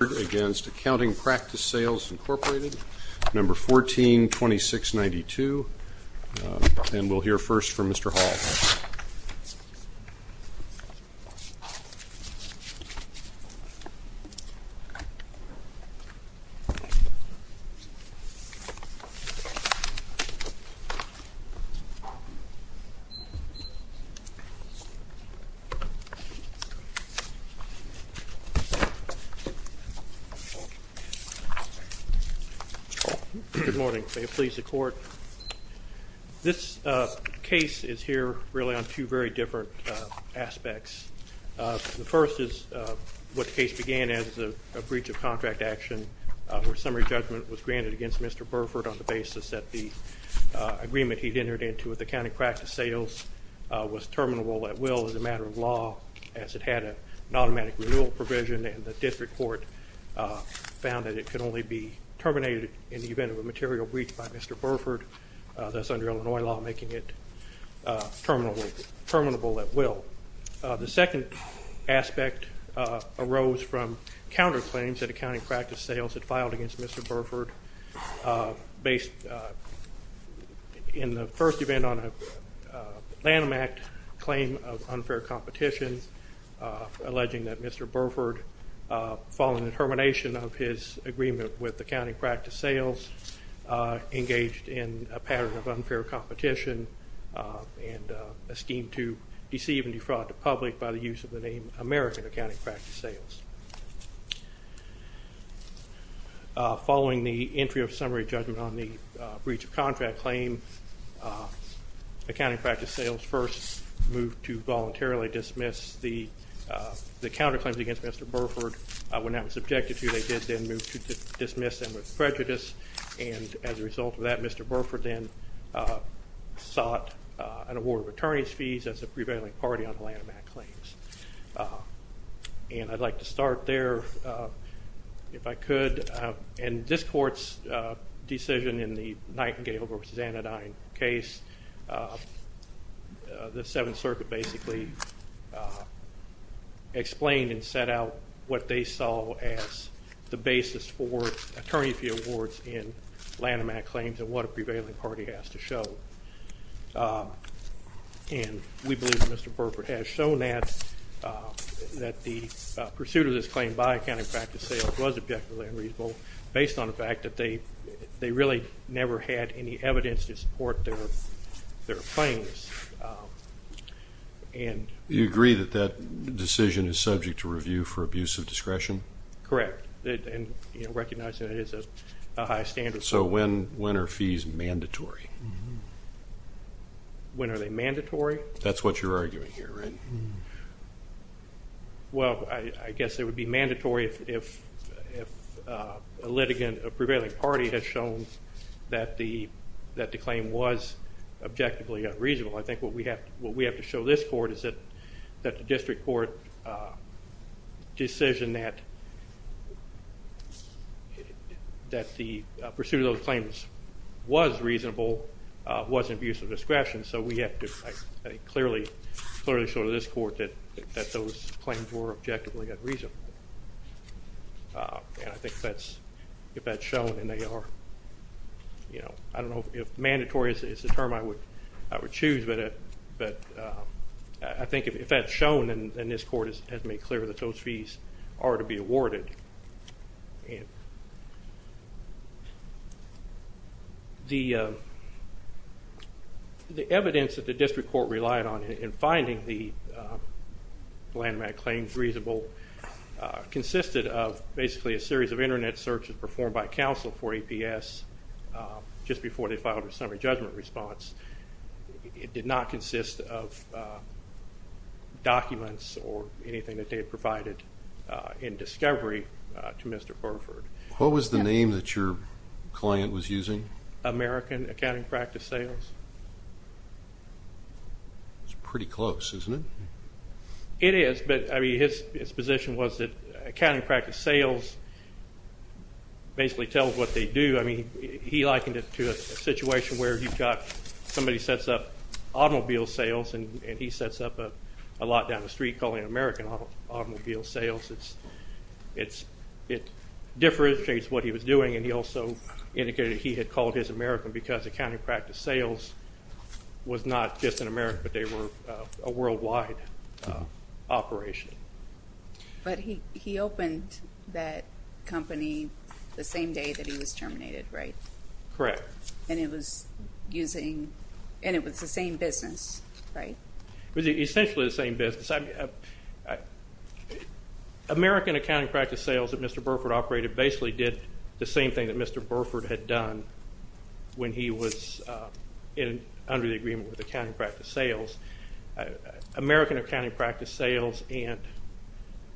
Number 142692. And we'll hear first from Mr. Hall. Good morning. May it please the court. This case is here really on two very different aspects. The first is what the case began as a breach of contract action where summary judgment was granted against Mr. Burford on the basis that the agreement he'd entered into with accounting practice sales was terminable at will as a matter of law as it had an automatic renewal provision and the district court found that it could only be terminated in the event of a material breach by Mr. Burford that's under Illinois law making it terminable at will. The second aspect arose from counterclaims that accounting practice sales had filed against Mr. Burford based in the first event on a Lanham Act claim of unfair competition alleging that Mr. Burford, following the termination of his agreement with accounting practice sales, engaged in a pattern of unfair competition and a scheme to deceive and defraud the public by the use of the name American Accounting Practice Sales. Following the entry of summary judgment on the breach of contract claim, accounting practice sales first moved to voluntarily dismiss the counterclaims against Mr. Burford. When that was subjected to, they did then move to dismiss them with prejudice and as a result of that Mr. Burford then sought an award of attorney's fees as a prevailing party on the Lanham Act claims. And I'd like to start there if I could. In this court's decision in the Nightingale v. Anodyne case, the Seventh explained and set out what they saw as the basis for attorney's fee awards in Lanham Act claims and what a prevailing party has to show. And we believe that Mr. Burford has shown that the pursuit of this claim by accounting practice sales was objectively unreasonable based on the fact that they really never had any evidence to support their claims. Do you agree that that decision is subject to review for abuse of discretion? Correct. And recognizing that it is a high standard. So when are fees mandatory? When are they mandatory? That's what you're arguing here, right? Well, I guess it would be mandatory if a litigant, a prevailing party has shown that the claim was objectively unreasonable. I think what we have to show this court is that the district court decision that the pursuit of those claims was reasonable was in abuse of discretion. So we have to clearly show to this court that those claims were objectively unreasonable. And I think if that's shown and they are, you know, I don't know if mandatory is the term I would choose, but I think if that's shown and this court has made clear that those fees are to be awarded. The evidence that the district court relied on in finding the landmark claims reasonable consisted of basically a series of internet searches performed by counsel for APS just before they filed a summary to Mr. Burford. What was the name that your client was using? American Accounting Practice Sales. It's pretty close, isn't it? It is, but I mean, his position was that accounting practice sales basically tells what they do. I mean, he likened it to a situation where you've got, somebody sets up automobile sales and he sets up a street calling it American Automobile Sales. It differentiates what he was doing and he also indicated that he had called his American because accounting practice sales was not just an American, but they were a worldwide operation. But he opened that company the same day that he was terminated, right? Correct. And it was using, and it was the same business, right? It was essentially the same business. American Accounting Practice Sales that Mr. Burford operated basically did the same thing that Mr. Burford had done when he was under the agreement with accounting practice sales. American Accounting Practice Sales and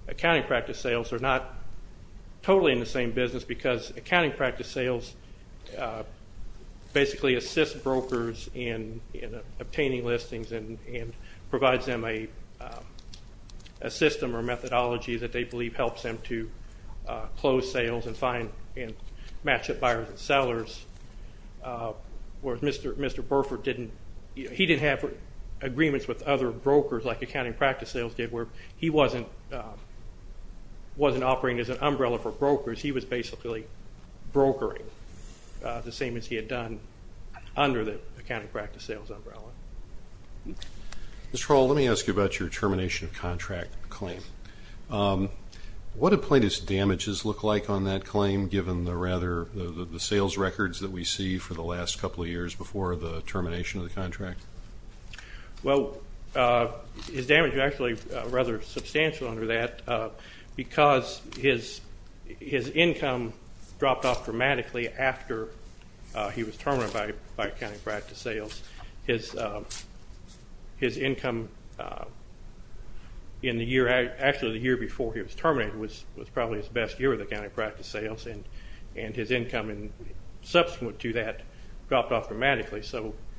accounting practice sales are not totally in the same business because accounting practice sales basically assists brokers in obtaining listings and provides them a system or methodology that they believe helps them to close sales and find and match up buyers and sellers. Whereas Mr. Burford didn't, he didn't have agreements with other brokers like accounting practice sales did where he wasn't operating as an umbrella for brokers. He was basically brokering the same as he had done under the accounting practice sales umbrella. Mr. Hall, let me ask you about your termination of contract claim. What did Plaintiff's damages look like on that claim given the rather, the sales records that we see for the last couple of years before the termination of the contract? Well, his damages are actually rather substantial under that because his income dropped off dramatically after he was terminated by accounting practice sales. His income in the year, actually the year before he was terminated was probably his best year of accounting practice sales and his income subsequent to that dropped off dramatically.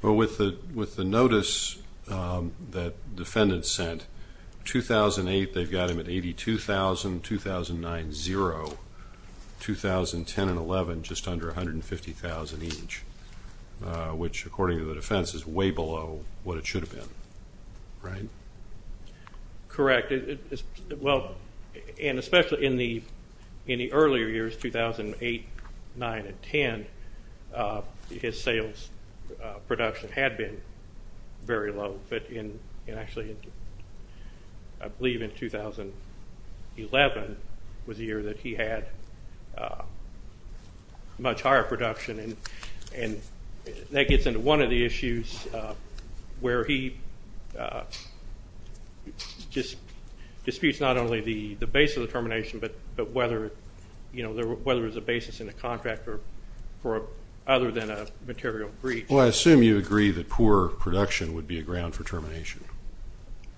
Well, with the notice that defendants sent, 2008 they've got him at $82,000, 2009 zero, 2010 and 2011 just under $150,000 each, which according to the defense is way below what it should have been, right? Correct. Well, and especially in the earlier years, 2008, 2009 and 2010, his sales production had been very low, but in actually I believe in 2011 was the year that he had much higher production. And that gets into one of the issues where he just disputes not only the base of the termination, but whether there was a basis in the contract other than a material breach. Well, I assume you agree that poor production would be a ground for termination.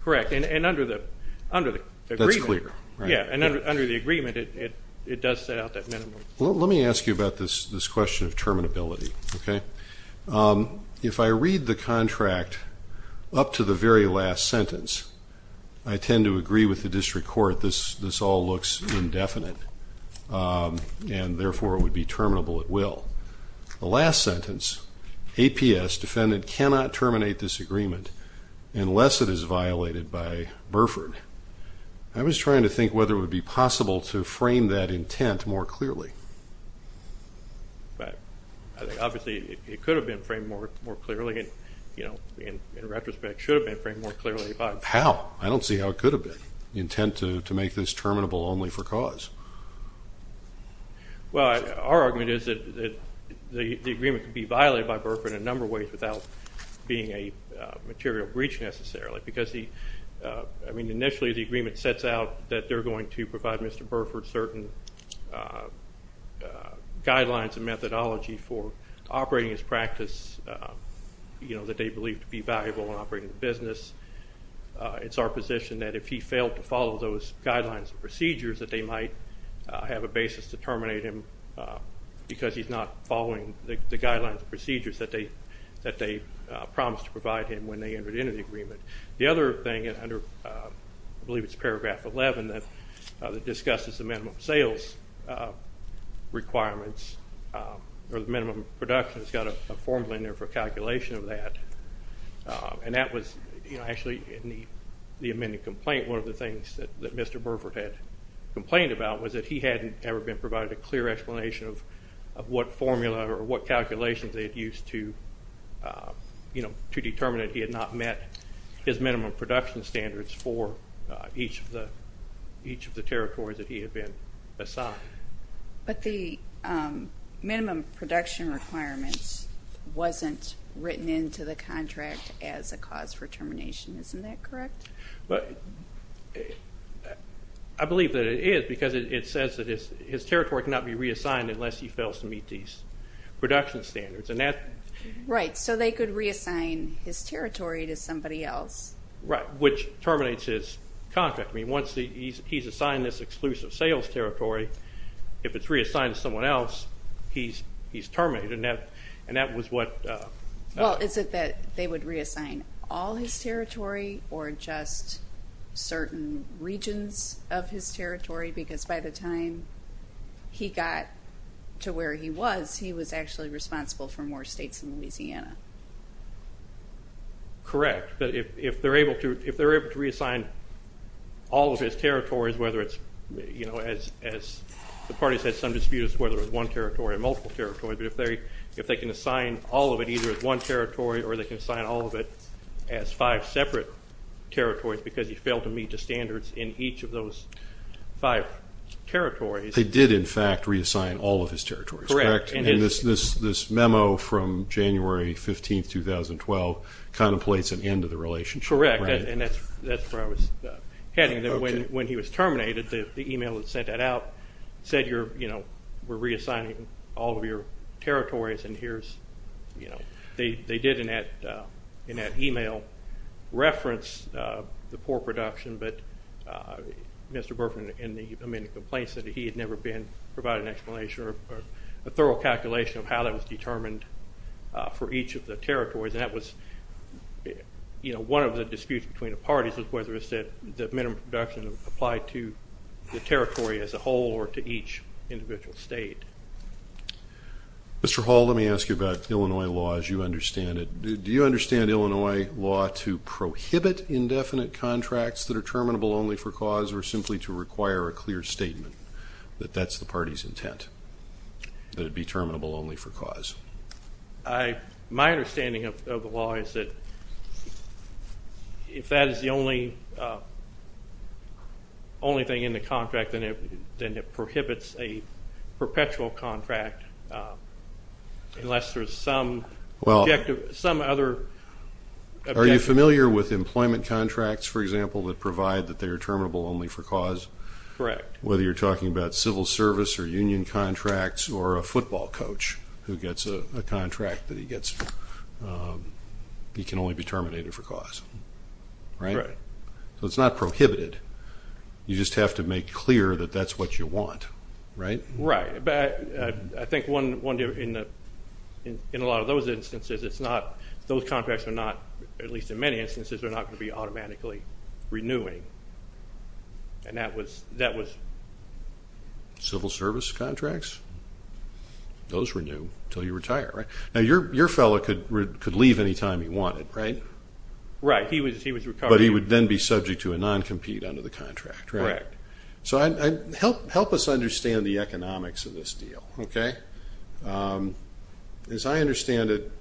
Correct. And under the agreement, it does set out that minimum. Let me ask you about this question of terminability, okay? If I read the contract up to the very last sentence, I tend to agree with the district court this all looks indefinite, and therefore it would be terminable at will. The last sentence, APS defendant cannot terminate this agreement unless it is violated by Burford. I was trying to think whether it would be possible to frame that intent more clearly. Obviously, it could have been framed more clearly, and, you know, in retrospect, it should have been framed more clearly. How? I don't see how it could have been, the intent to make this terminable only for cause. Well, our argument is that the agreement could be violated by Burford in a number of ways without being a material breach necessarily. I mean, initially the agreement sets out that they're going to provide Mr. Burford certain guidelines and methodology for operating his practice, you know, that they believe to be valuable in operating the business. It's our position that if he failed to follow those guidelines and procedures, that they might have a basis to terminate him because he's not following the guidelines and procedures that they promised to provide him when they entered into the agreement. The other thing, I believe it's paragraph 11 that discusses the minimum sales requirements or the minimum production, it's got a formula in there for calculation of that, and that was actually in the amended complaint one of the things that Mr. Burford had complained about was that he hadn't ever been provided a clear explanation of what formula or what calculations they had used to determine that he had not met his minimum production standards for each of the territories that he had been assigned. But the minimum production requirements wasn't written into the contract as a cause for termination. Isn't that correct? I believe that it is because it says that his territory cannot be reassigned unless he fails to meet these production standards. Right, so they could reassign his territory to somebody else. Right, which terminates his contract. I mean, once he's assigned this exclusive sales territory, if it's reassigned to someone else, he's terminated. Well, is it that they would reassign all his territory or just certain regions of his territory? Because by the time he got to where he was, he was actually responsible for more states in Louisiana. Correct, but if they're able to reassign all of his territories, whether it's, as the party said, some dispute as to whether it was one territory or multiple territories, but if they can assign all of it either as one territory or they can assign all of it as five separate territories because he failed to meet the standards in each of those five territories. They did, in fact, reassign all of his territories, correct? Correct. And this memo from January 15, 2012 contemplates an end to the relationship. Correct, and that's where I was heading. When he was terminated, the email that sent that out said, you know, we're reassigning all of your territories and here's, you know, they did in that email reference the poor production, but Mr. Burford in the amended complaint said that he had never been provided an explanation or a thorough calculation of how that was determined for each of the territories. And that was, you know, one of the disputes between the parties was whether it said that minimum production applied to the territory as a whole or to each individual state. Mr. Hall, let me ask you about Illinois law as you understand it. Do you understand Illinois law to prohibit indefinite contracts that are terminable only for cause or simply to require a clear statement that that's the party's intent, that it be terminable only for cause? My understanding of the law is that if that is the only thing in the contract, then it prohibits a perpetual contract unless there's some other objective. Are you familiar with employment contracts, for example, that provide that they are terminable only for cause? Correct. Whether you're talking about civil service or union contracts or a football coach who gets a contract that he gets, he can only be terminated for cause, right? Right. So it's not prohibited. You just have to make clear that that's what you want, right? Right. But I think in a lot of those instances, those contracts are not, at least in many instances, they're not going to be automatically renewing, and that was... Civil service contracts? Those renew until you retire, right? Now, your fellow could leave any time he wanted, right? Right. He was recovering. But he would then be subject to a non-compete under the contract, right? Correct. So help us understand the economics of this deal, okay? As I understand it,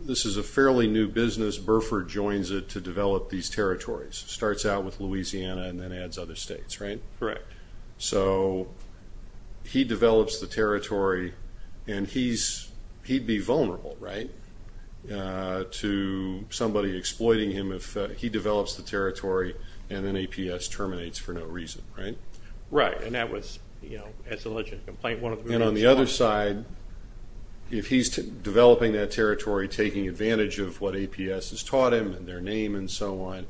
this is a fairly new business. Burford joins it to develop these territories. It starts out with Louisiana and then adds other states, right? Correct. So he develops the territory, and he'd be vulnerable, right, to somebody exploiting him if he develops the territory and an APS terminates for no reason, right? Right. And that was, as alleged, a complaint. And on the other side, if he's developing that territory, taking advantage of what APS has taught him and their name and so on,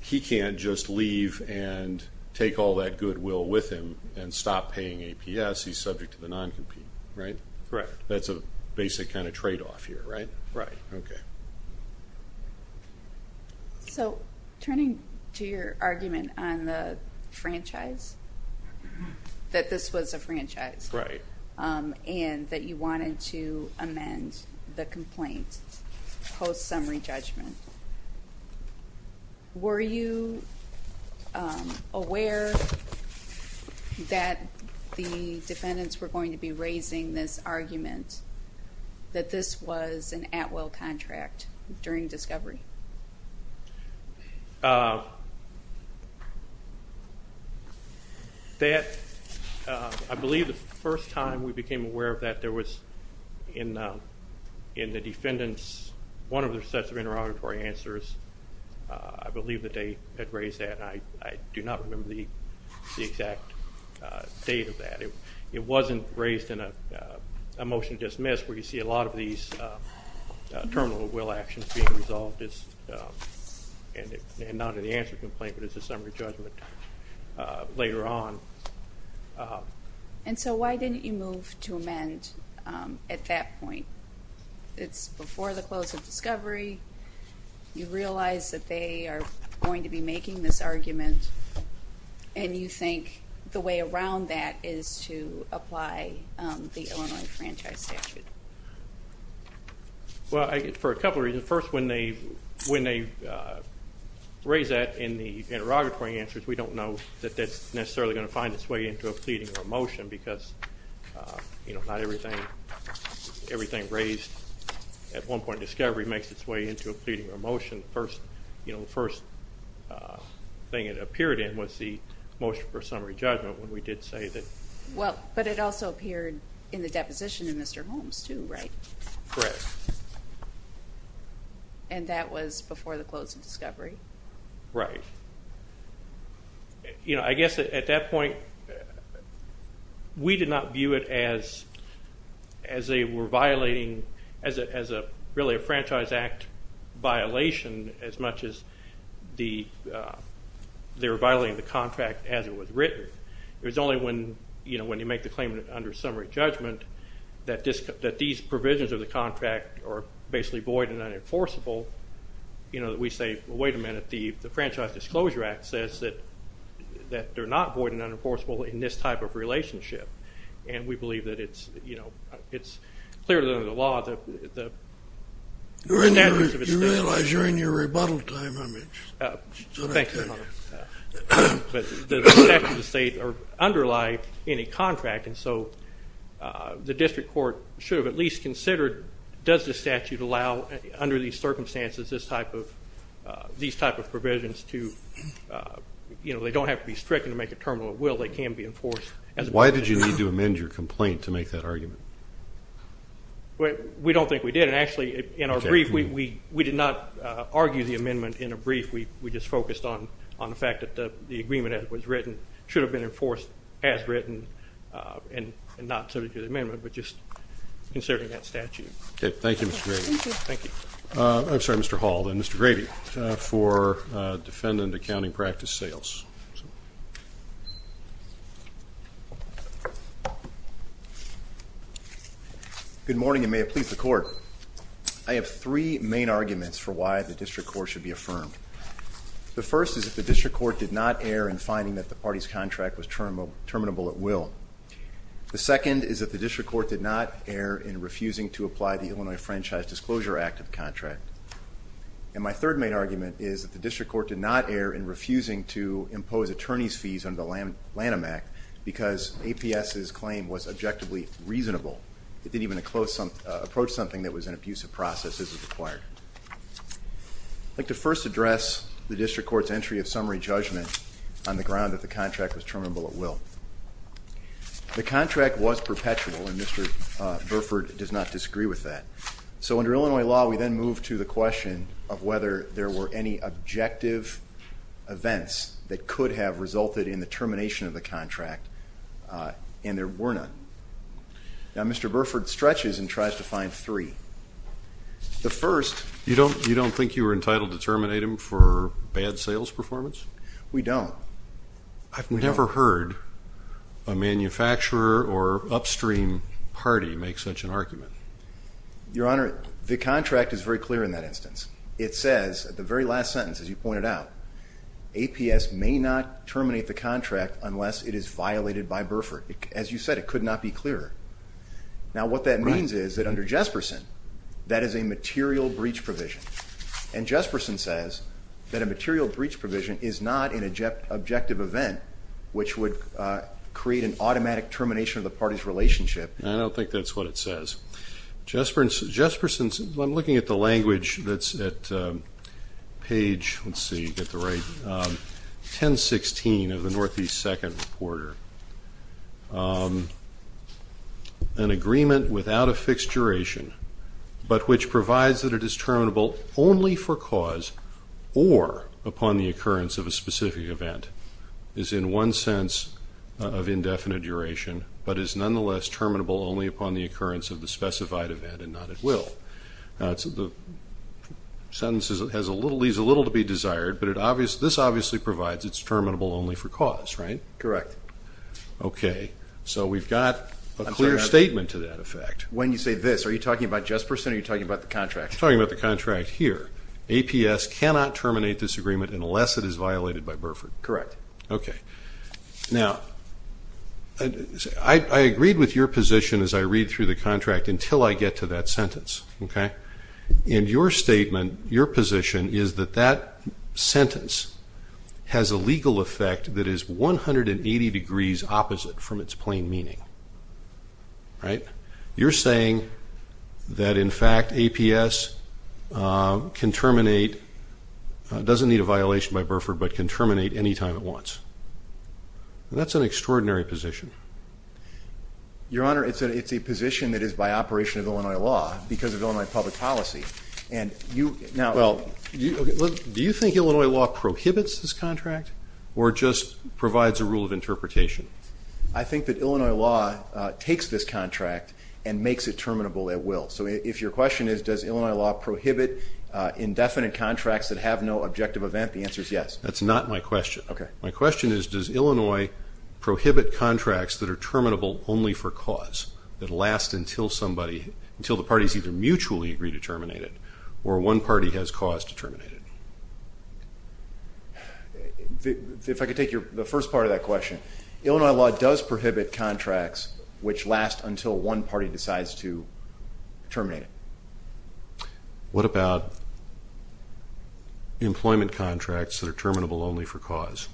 he can't just leave and take all that goodwill with him and stop paying APS. He's subject to the non-compete, right? Correct. That's a basic kind of tradeoff here, right? Right. Okay. So turning to your argument on the franchise, that this was a franchise. Right. And that you wanted to amend the complaint post-summary judgment, were you aware that the defendants were going to be raising this argument, that this was an at-will contract during discovery? I believe the first time we became aware of that, there was in the defendants one of their sets of interrogatory answers. I believe that they had raised that. I do not remember the exact date of that. It wasn't raised in a motion dismissed, where you see a lot of these terminal at-will actions being resolved, and not in the answer complaint, but as a summary judgment later on. And so why didn't you move to amend at that point? It's before the close of discovery. You realize that they are going to be making this argument, and you think the way around that is to apply the Illinois franchise statute. Well, for a couple of reasons. First, when they raise that in the interrogatory answers, we don't know that that's necessarily going to find its way into a pleading or a motion, because not everything raised at one point in discovery makes its way into a pleading or a motion. The first thing it appeared in was the motion for summary judgment, when we did say that. Well, but it also appeared in the deposition in Mr. Holmes too, right? Correct. And that was before the close of discovery? Right. You know, I guess at that point we did not view it as they were violating, as really a Franchise Act violation as much as they were violating the contract as it was written. It was only when you make the claim under summary judgment that these provisions of the contract are basically void and unenforceable, you know, that we say, wait a minute, the Franchise Disclosure Act says that they're not void and unenforceable in this type of relationship. And we believe that it's, you know, it's clearly under the law. You realize you're in your rebuttal time, I mean. Thank you, Your Honor. But the statutes of the state underlie any contract, and so the district court should have at least considered, does the statute allow under these circumstances this type of, these type of provisions to, you know, they don't have to be stricken to make a terminal at will, they can be enforced. Why did you need to amend your complaint to make that argument? We don't think we did. And actually in our brief, we did not argue the amendment in a brief. We just focused on the fact that the agreement as it was written should have been enforced as written and not sort of through the amendment, but just considering that statute. Okay, thank you, Mr. Grady. Thank you. I'm sorry, Mr. Hall. Then Mr. Grady for defendant accounting practice sales. Good morning, and may it please the court. I have three main arguments for why the district court should be affirmed. The first is that the district court did not err in finding that the party's contract was terminable at will. The second is that the district court did not err in refusing to apply the Illinois Franchise Disclosure Act of the contract. And my third main argument is that the district court did not err in refusing to impose attorney's fees under the Lanham Act because APS's claim was objectively reasonable. It didn't even approach something that was an abusive process as it required. I'd like to first address the district court's entry of summary judgment on the ground that the contract was terminable at will. The contract was perpetual, and Mr. Burford does not disagree with that. So under Illinois law, we then move to the question of whether there were any objective events that could have resulted in the termination of the contract, and there were none. Now, Mr. Burford stretches and tries to find three. The first... You don't think you were entitled to terminate him for bad sales performance? We don't. I've never heard a manufacturer or upstream party make such an argument. Your Honor, the contract is very clear in that instance. It says at the very last sentence, as you pointed out, APS may not terminate the contract unless it is violated by Burford. As you said, it could not be clearer. Now, what that means is that under Jesperson, that is a material breach provision, and Jesperson says that a material breach provision is not an objective event which would create an automatic termination of the party's relationship. I don't think that's what it says. Jesperson's... I'm looking at the language that's at page, let's see, get the right... 1016 of the Northeast Second Reporter. An agreement without a fixed duration, but which provides that it is terminable only for cause or upon the occurrence of a specific event, is in one sense of indefinite duration, but is nonetheless terminable only upon the occurrence of the specified event and not at will. The sentence leaves a little to be desired, but this obviously provides it's terminable only for cause, right? Correct. Okay, so we've got a clear statement to that effect. When you say this, are you talking about Jesperson or are you talking about the contract? I'm talking about the contract here. APS cannot terminate this agreement unless it is violated by Burford. Correct. Okay. Now, I agreed with your position as I read through the contract until I get to that sentence, okay? In your statement, your position is that that sentence has a legal effect that is 180 degrees opposite from its plain meaning, right? You're saying that, in fact, APS can terminate, doesn't need a violation by Burford, but can terminate anytime it wants. That's an extraordinary position. Your Honor, it's a position that is by operation of Illinois law because of Illinois public policy. Do you think Illinois law prohibits this contract or just provides a rule of interpretation? I think that Illinois law takes this contract and makes it terminable at will. So if your question is, does Illinois law prohibit indefinite contracts that have no objective event, the answer is yes. That's not my question. My question is, does Illinois prohibit contracts that are terminable only for cause, that last until the parties either mutually agree to terminate it or one party has cause to terminate it? If I could take the first part of that question, Illinois law does prohibit contracts which last until one party decides to terminate it. What about employment contracts that are terminable only for cause?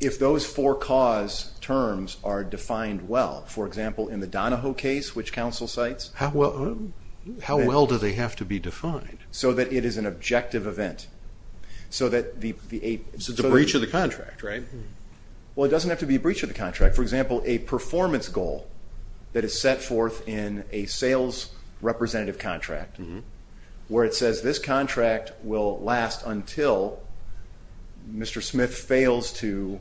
If those four cause terms are defined well, for example, in the Donahoe case, which counsel cites? Yes. How well do they have to be defined? So that it is an objective event. So it's a breach of the contract, right? Well, it doesn't have to be a breach of the contract. For example, a performance goal that is set forth in a sales representative contract where it says this contract will last until Mr. Smith fails to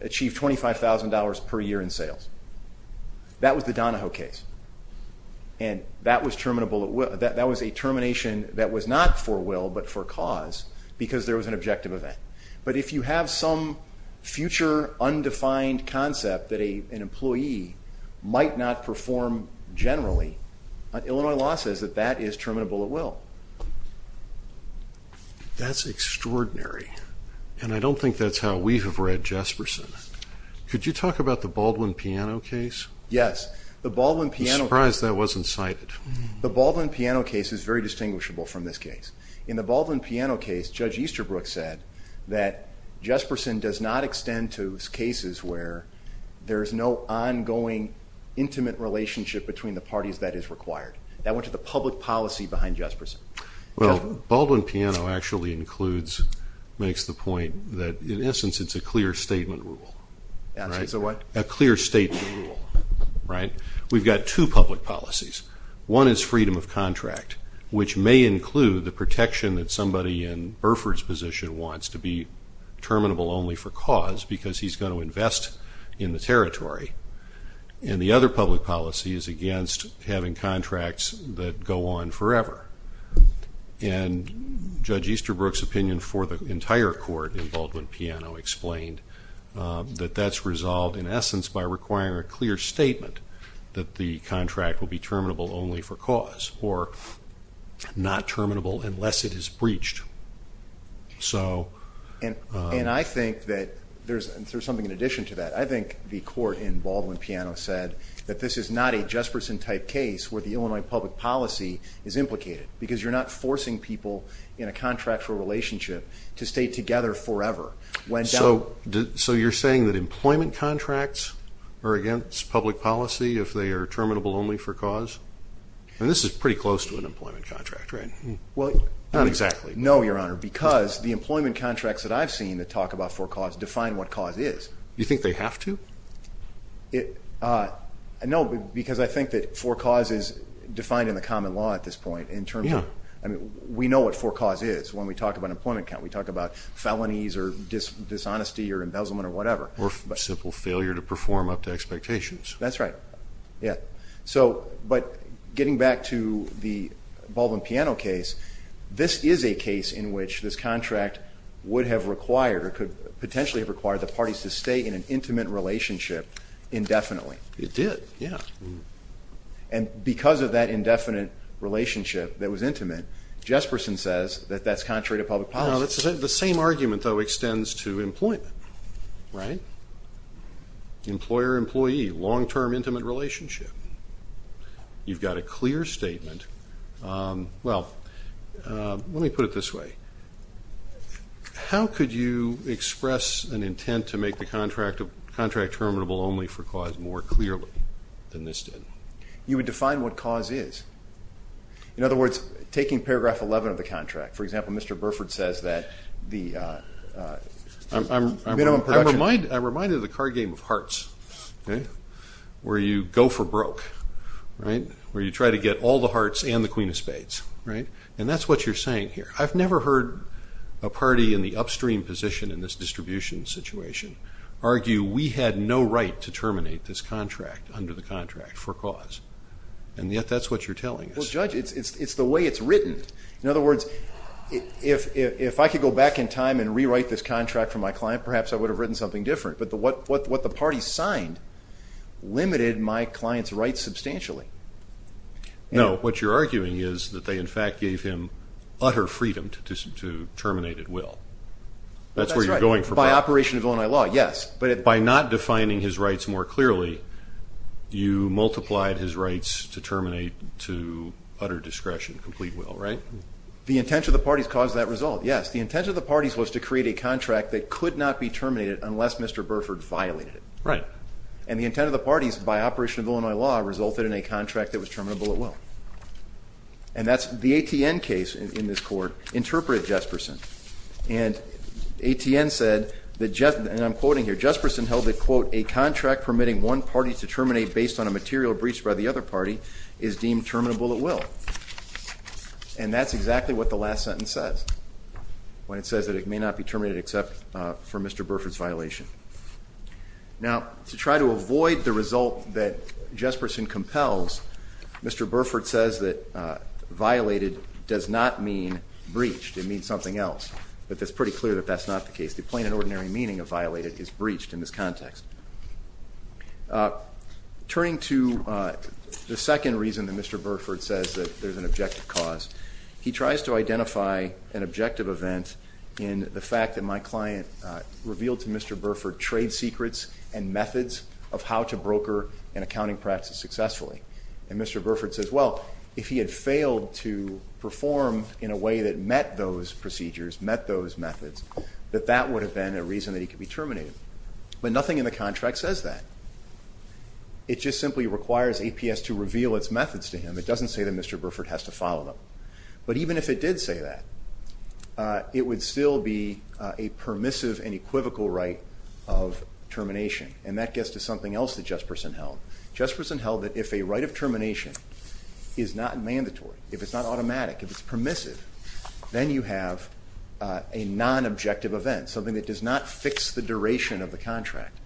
achieve $25,000 per year in sales. That was the Donahoe case. And that was a termination that was not for will but for cause because there was an objective event. But if you have some future undefined concept that an employee might not perform generally, Illinois law says that that is terminable at will. That's extraordinary. And I don't think that's how we have read Jesperson. Could you talk about the Baldwin Piano case? Yes. I'm surprised that wasn't cited. The Baldwin Piano case is very distinguishable from this case. In the Baldwin Piano case, Judge Easterbrook said that Jesperson does not extend to cases where there is no ongoing intimate relationship between the parties that is required. That went to the public policy behind Jesperson. Well, Baldwin Piano actually makes the point that, in essence, it's a clear statement rule. It's a what? A clear statement rule. We've got two public policies. One is freedom of contract, which may include the protection that somebody in Burford's position wants to be terminable only for cause because he's going to invest in the territory. And the other public policy is against having contracts that go on forever. And Judge Easterbrook's opinion for the entire court in Baldwin Piano explained that that's resolved, in essence, by requiring a clear statement that the contract will be terminable only for cause or not terminable unless it is breached. And I think that there's something in addition to that. I think the court in Baldwin Piano said that this is not a Jesperson-type case where the Illinois public policy is implicated because you're not forcing people in a contractual relationship to stay together forever. So you're saying that employment contracts are against public policy if they are terminable only for cause? And this is pretty close to an employment contract, right? Well, not exactly. No, Your Honor, because the employment contracts that I've seen that talk about for cause define what cause is. You think they have to? No, because I think that for cause is defined in the common law at this point in terms of we know what for cause is when we talk about an employment account. We talk about felonies or dishonesty or embezzlement or whatever. Or simple failure to perform up to expectations. That's right. But getting back to the Baldwin Piano case, this is a case in which this contract would have required or could potentially have required the parties to stay in an intimate relationship indefinitely. It did, yeah. And because of that indefinite relationship that was intimate, Jesperson says that that's contrary to public policy. No, the same argument, though, extends to employment, right? Employer-employee long-term intimate relationship. You've got a clear statement. Well, let me put it this way. How could you express an intent to make the contract terminable only for cause more clearly than this did? You would define what cause is. In other words, taking paragraph 11 of the contract. For example, Mr. Burford says that the minimum production. I'm reminded of the card game of hearts where you go for broke, right, where you try to get all the hearts and the queen of spades, right? And that's what you're saying here. I've never heard a party in the upstream position in this distribution situation argue we had no right to terminate this contract under the contract for cause. And yet that's what you're telling us. Well, Judge, it's the way it's written. In other words, if I could go back in time and rewrite this contract for my client, perhaps I would have written something different. But what the parties signed limited my client's rights substantially. No, what you're arguing is that they, in fact, gave him utter freedom to terminate at will. That's where you're going for broke. By operation of Illinois law, yes. By not defining his rights more clearly, you multiplied his rights to terminate to utter discretion, complete will, right? The intent of the parties caused that result, yes. The intent of the parties was to create a contract that could not be terminated unless Mr. Burford violated it. Right. And the intent of the parties, by operation of Illinois law, resulted in a contract that was terminable at will. And that's the ATN case in this court interpreted Jesperson. And ATN said that, and I'm quoting here, Jesperson held that, quote, a contract permitting one party to terminate based on a material breached by the other party is deemed terminable at will. And that's exactly what the last sentence says, when it says that it may not be terminated except for Mr. Burford's violation. Now, to try to avoid the result that Jesperson compels, Mr. Burford says that violated does not mean breached. It means something else. But it's pretty clear that that's not the case. The plain and ordinary meaning of violated is breached in this context. Turning to the second reason that Mr. Burford says that there's an objective cause, he tries to identify an objective event in the fact that my client revealed to Mr. Burford trade secrets and methods of how to broker an accounting practice successfully. And Mr. Burford says, well, if he had failed to perform in a way that met those procedures, met those methods, that that would have been a reason that he could be terminated. But nothing in the contract says that. It just simply requires APS to reveal its methods to him. It doesn't say that Mr. Burford has to follow them. But even if it did say that, it would still be a permissive and equivocal right of termination. And that gets to something else that Jesperson held. Jesperson held that if a right of termination is not mandatory, if it's not automatic, if it's permissive, then you have a non-objective event, something that does not fix the duration of the contract.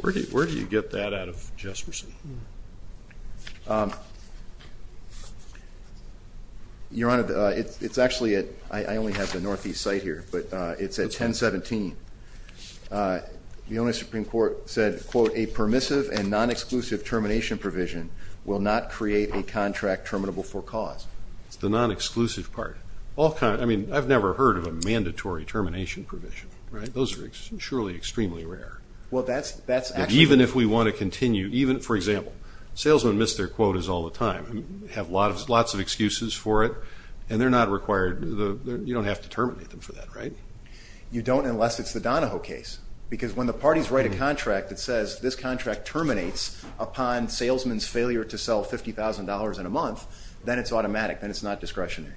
Where do you get that out of Jesperson? Your Honor, it's actually at ‑‑ I only have the northeast site here, but it's at 1017. The only Supreme Court said, quote, a permissive and non-exclusive termination provision will not create a contract terminable for cause. It's the non-exclusive part. I mean, I've never heard of a mandatory termination provision. Those are surely extremely rare. Well, that's actually ‑‑ Even if we want to continue, even, for example, salesmen miss their quotas all the time, have lots of excuses for it, and they're not required. You don't have to terminate them for that, right? You don't unless it's the Donahoe case, because when the parties write a contract that says this contract terminates upon salesman's failure to sell $50,000 in a month, then it's automatic. Then it's not discretionary.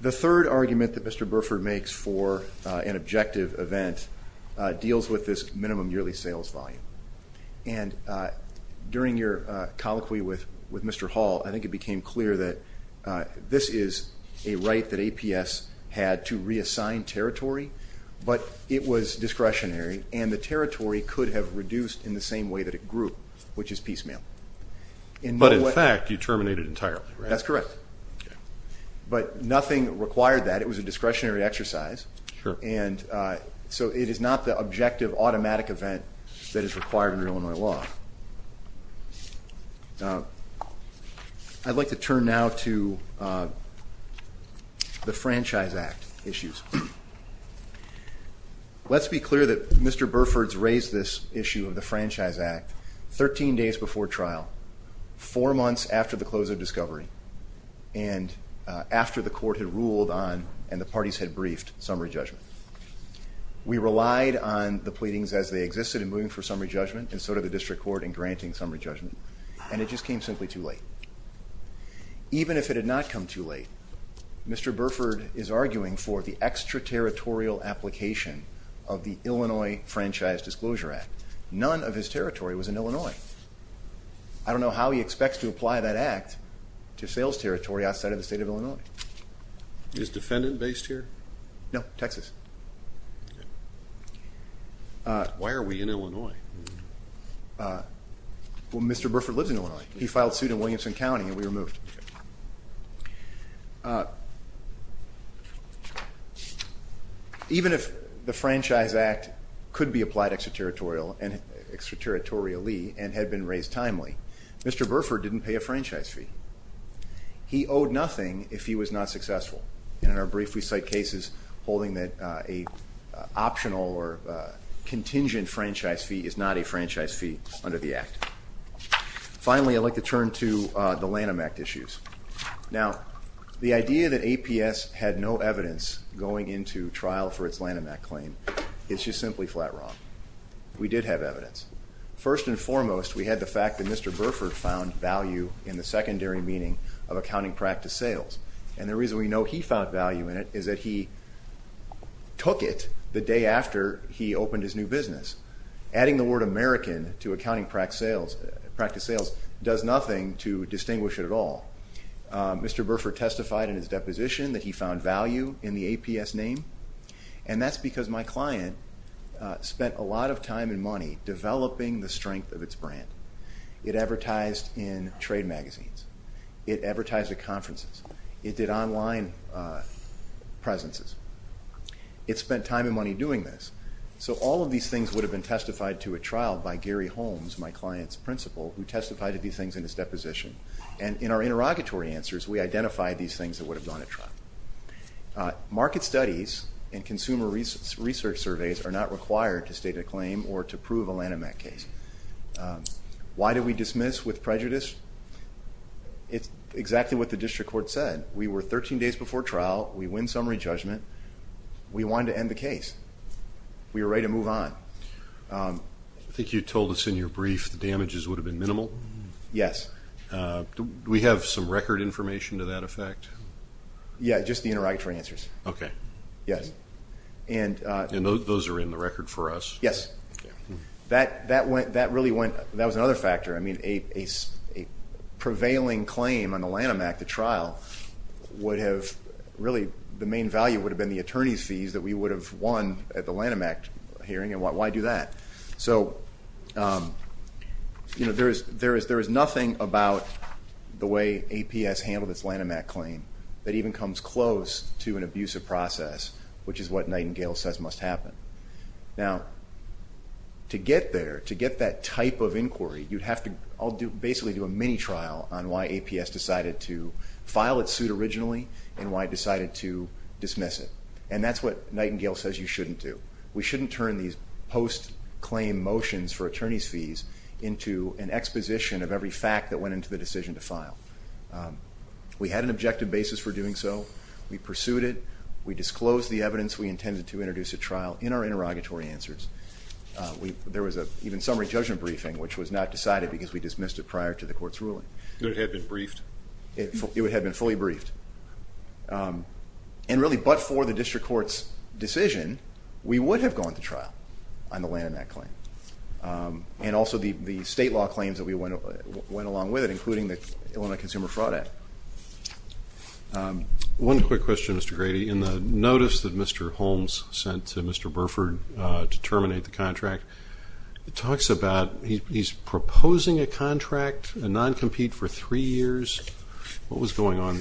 The third argument that Mr. Burford makes for an objective event deals with this minimum yearly sales volume. And during your colloquy with Mr. Hall, I think it became clear that this is a right that APS had to reassign territory, but it was discretionary, and the territory could have reduced in the same way that it grew, which is piecemeal. But in fact, you terminate it entirely, right? That's correct. But nothing required that. It was a discretionary exercise. Sure. And so it is not the objective automatic event that is required under Illinois law. I'd like to turn now to the Franchise Act issues. Let's be clear that Mr. Burford's raised this issue of the Franchise Act 13 days before trial, four months after the close of discovery, and after the court had ruled on and the parties had briefed summary judgment. We relied on the pleadings as they existed in moving for summary judgment, and so did the district court in granting summary judgment, and it just came simply too late. Even if it had not come too late, Mr. Burford is arguing for the extraterritorial application of the Illinois Franchise Disclosure Act. None of his territory was in Illinois. I don't know how he expects to apply that act to sales territory outside of the state of Illinois. Is defendant based here? No, Texas. Why are we in Illinois? Well, Mr. Burford lives in Illinois. He filed suit in Williamson County and we were moved. Even if the Franchise Act could be applied extraterritorially and had been raised timely, Mr. Burford didn't pay a franchise fee. He owed nothing if he was not successful, and in our brief we cite cases holding that an optional or contingent franchise fee is not a franchise fee under the act. Finally, I'd like to turn to the Lanham Act issues. Now, the idea that APS had no evidence going into trial for its Lanham Act claim is just simply flat wrong. We did have evidence. First and foremost, we had the fact that Mr. Burford found value in the secondary meaning of accounting practice sales, and the reason we know he found value in it is that he took it the day after he opened his new business. Adding the word American to accounting practice sales does nothing to distinguish it at all. Mr. Burford testified in his deposition that he found value in the APS name, and that's because my client spent a lot of time and money developing the strength of its brand. It advertised in trade magazines. It advertised at conferences. It did online presences. It spent time and money doing this. So all of these things would have been testified to at trial by Gary Holmes, my client's principal, who testified to these things in his deposition. And in our interrogatory answers, we identified these things that would have gone to trial. Market studies and consumer research surveys are not required to state a claim or to prove a Lanham Act case. Why did we dismiss with prejudice? It's exactly what the district court said. We were 13 days before trial. We win summary judgment. We wanted to end the case. We were ready to move on. I think you told us in your brief the damages would have been minimal. Yes. Do we have some record information to that effect? Yeah, just the interrogatory answers. Okay. And those are in the record for us? Yes. I mean, a prevailing claim on the Lanham Act at trial really the main value would have been the attorney's fees that we would have won at the Lanham Act hearing, and why do that? There is nothing about the way APS handled its Lanham Act claim that even comes close to an abusive process, which is what Nightingale says must happen. Now, to get there, to get that type of inquiry, you'd have to basically do a mini-trial on why APS decided to file its suit originally and why it decided to dismiss it. And that's what Nightingale says you shouldn't do. We shouldn't turn these post-claim motions for attorney's fees into an exposition of every fact that went into the decision to file. We had an objective basis for doing so. We pursued it. We disclosed the evidence we intended to introduce at trial in our interrogatory answers. There was an even summary judgment briefing, which was not decided because we dismissed it prior to the court's ruling. It would have been briefed? It would have been fully briefed. And really, but for the district court's decision, we would have gone to trial on the Lanham Act claim and also the state law claims that went along with it, including the Illinois Consumer Fraud Act. One quick question, Mr. Grady. In the notice that Mr. Holmes sent to Mr. Burford to terminate the contract, it talks about he's proposing a contract, a non-compete for three years. What was going on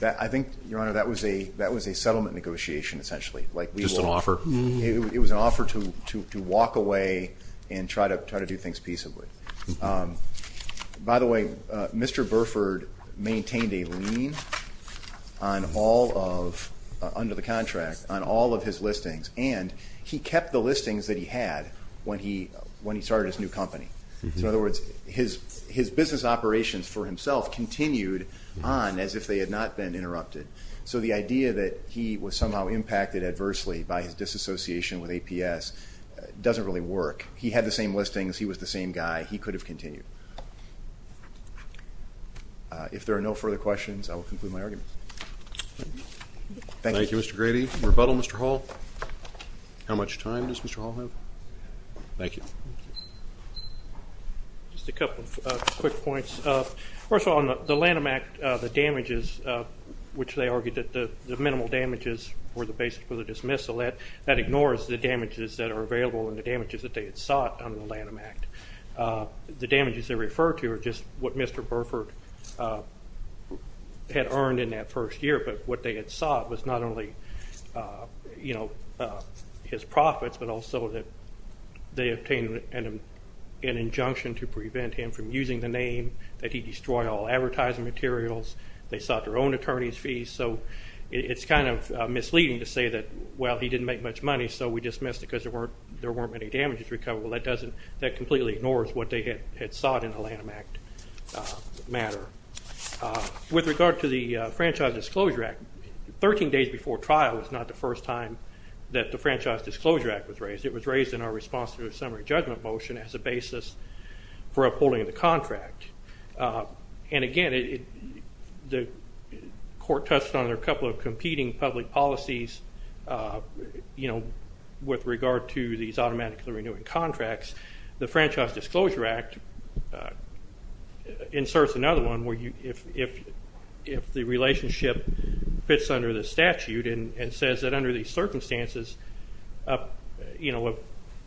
there? I think, Your Honor, that was a settlement negotiation, essentially. Just an offer? It was an offer to walk away and try to do things peaceably. By the way, Mr. Burford maintained a lien under the contract on all of his listings, and he kept the listings that he had when he started his new company. In other words, his business operations for himself continued on as if they had not been interrupted. So the idea that he was somehow impacted adversely by his disassociation with APS doesn't really work. He had the same listings, he was the same guy, he could have continued. If there are no further questions, I will conclude my argument. Thank you, Mr. Grady. Any rebuttal, Mr. Hall? How much time does Mr. Hall have? Thank you. Just a couple of quick points. First of all, on the Lanham Act, the damages, which they argued that the minimal damages were the basis for the dismissal, that ignores the damages that are available and the damages that they had sought under the Lanham Act. The damages they refer to are just what Mr. Burford had earned in that first year, but what they had sought was not only his profits, but also that they obtained an injunction to prevent him from using the name, that he destroy all advertising materials, they sought their own attorney's fees. So it's kind of misleading to say that, well, he didn't make much money, so we dismissed it because there weren't many damages recoverable. That completely ignores what they had sought in the Lanham Act matter. With regard to the Franchise Disclosure Act, 13 days before trial was not the first time that the Franchise Disclosure Act was raised. It was raised in our response to a summary judgment motion as a basis for upholding the contract. And again, the court touched on a couple of competing public policies with regard to these automatically renewing contracts. The Franchise Disclosure Act inserts another one where if the relationship fits under the statute and says that under these circumstances,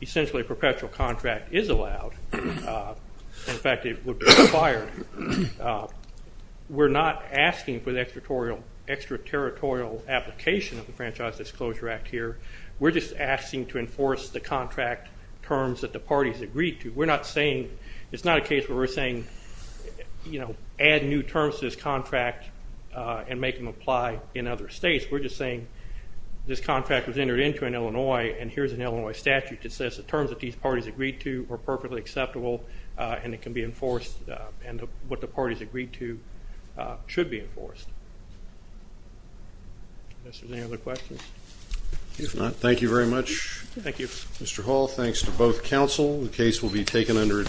essentially a perpetual contract is allowed. In fact, it would be expired. We're not asking for the extraterritorial application of the Franchise Disclosure Act here. We're just asking to enforce the contract terms that the parties agreed to. It's not a case where we're saying add new terms to this contract and make them apply in other states. We're just saying this contract was entered into in Illinois and here's an Illinois statute that says the terms that these parties agreed to are perfectly acceptable and it can be enforced and what the parties agreed to should be enforced. Unless there's any other questions. If not, thank you very much. Mr. Hall, thanks to both counsel. The case will be taken under advice.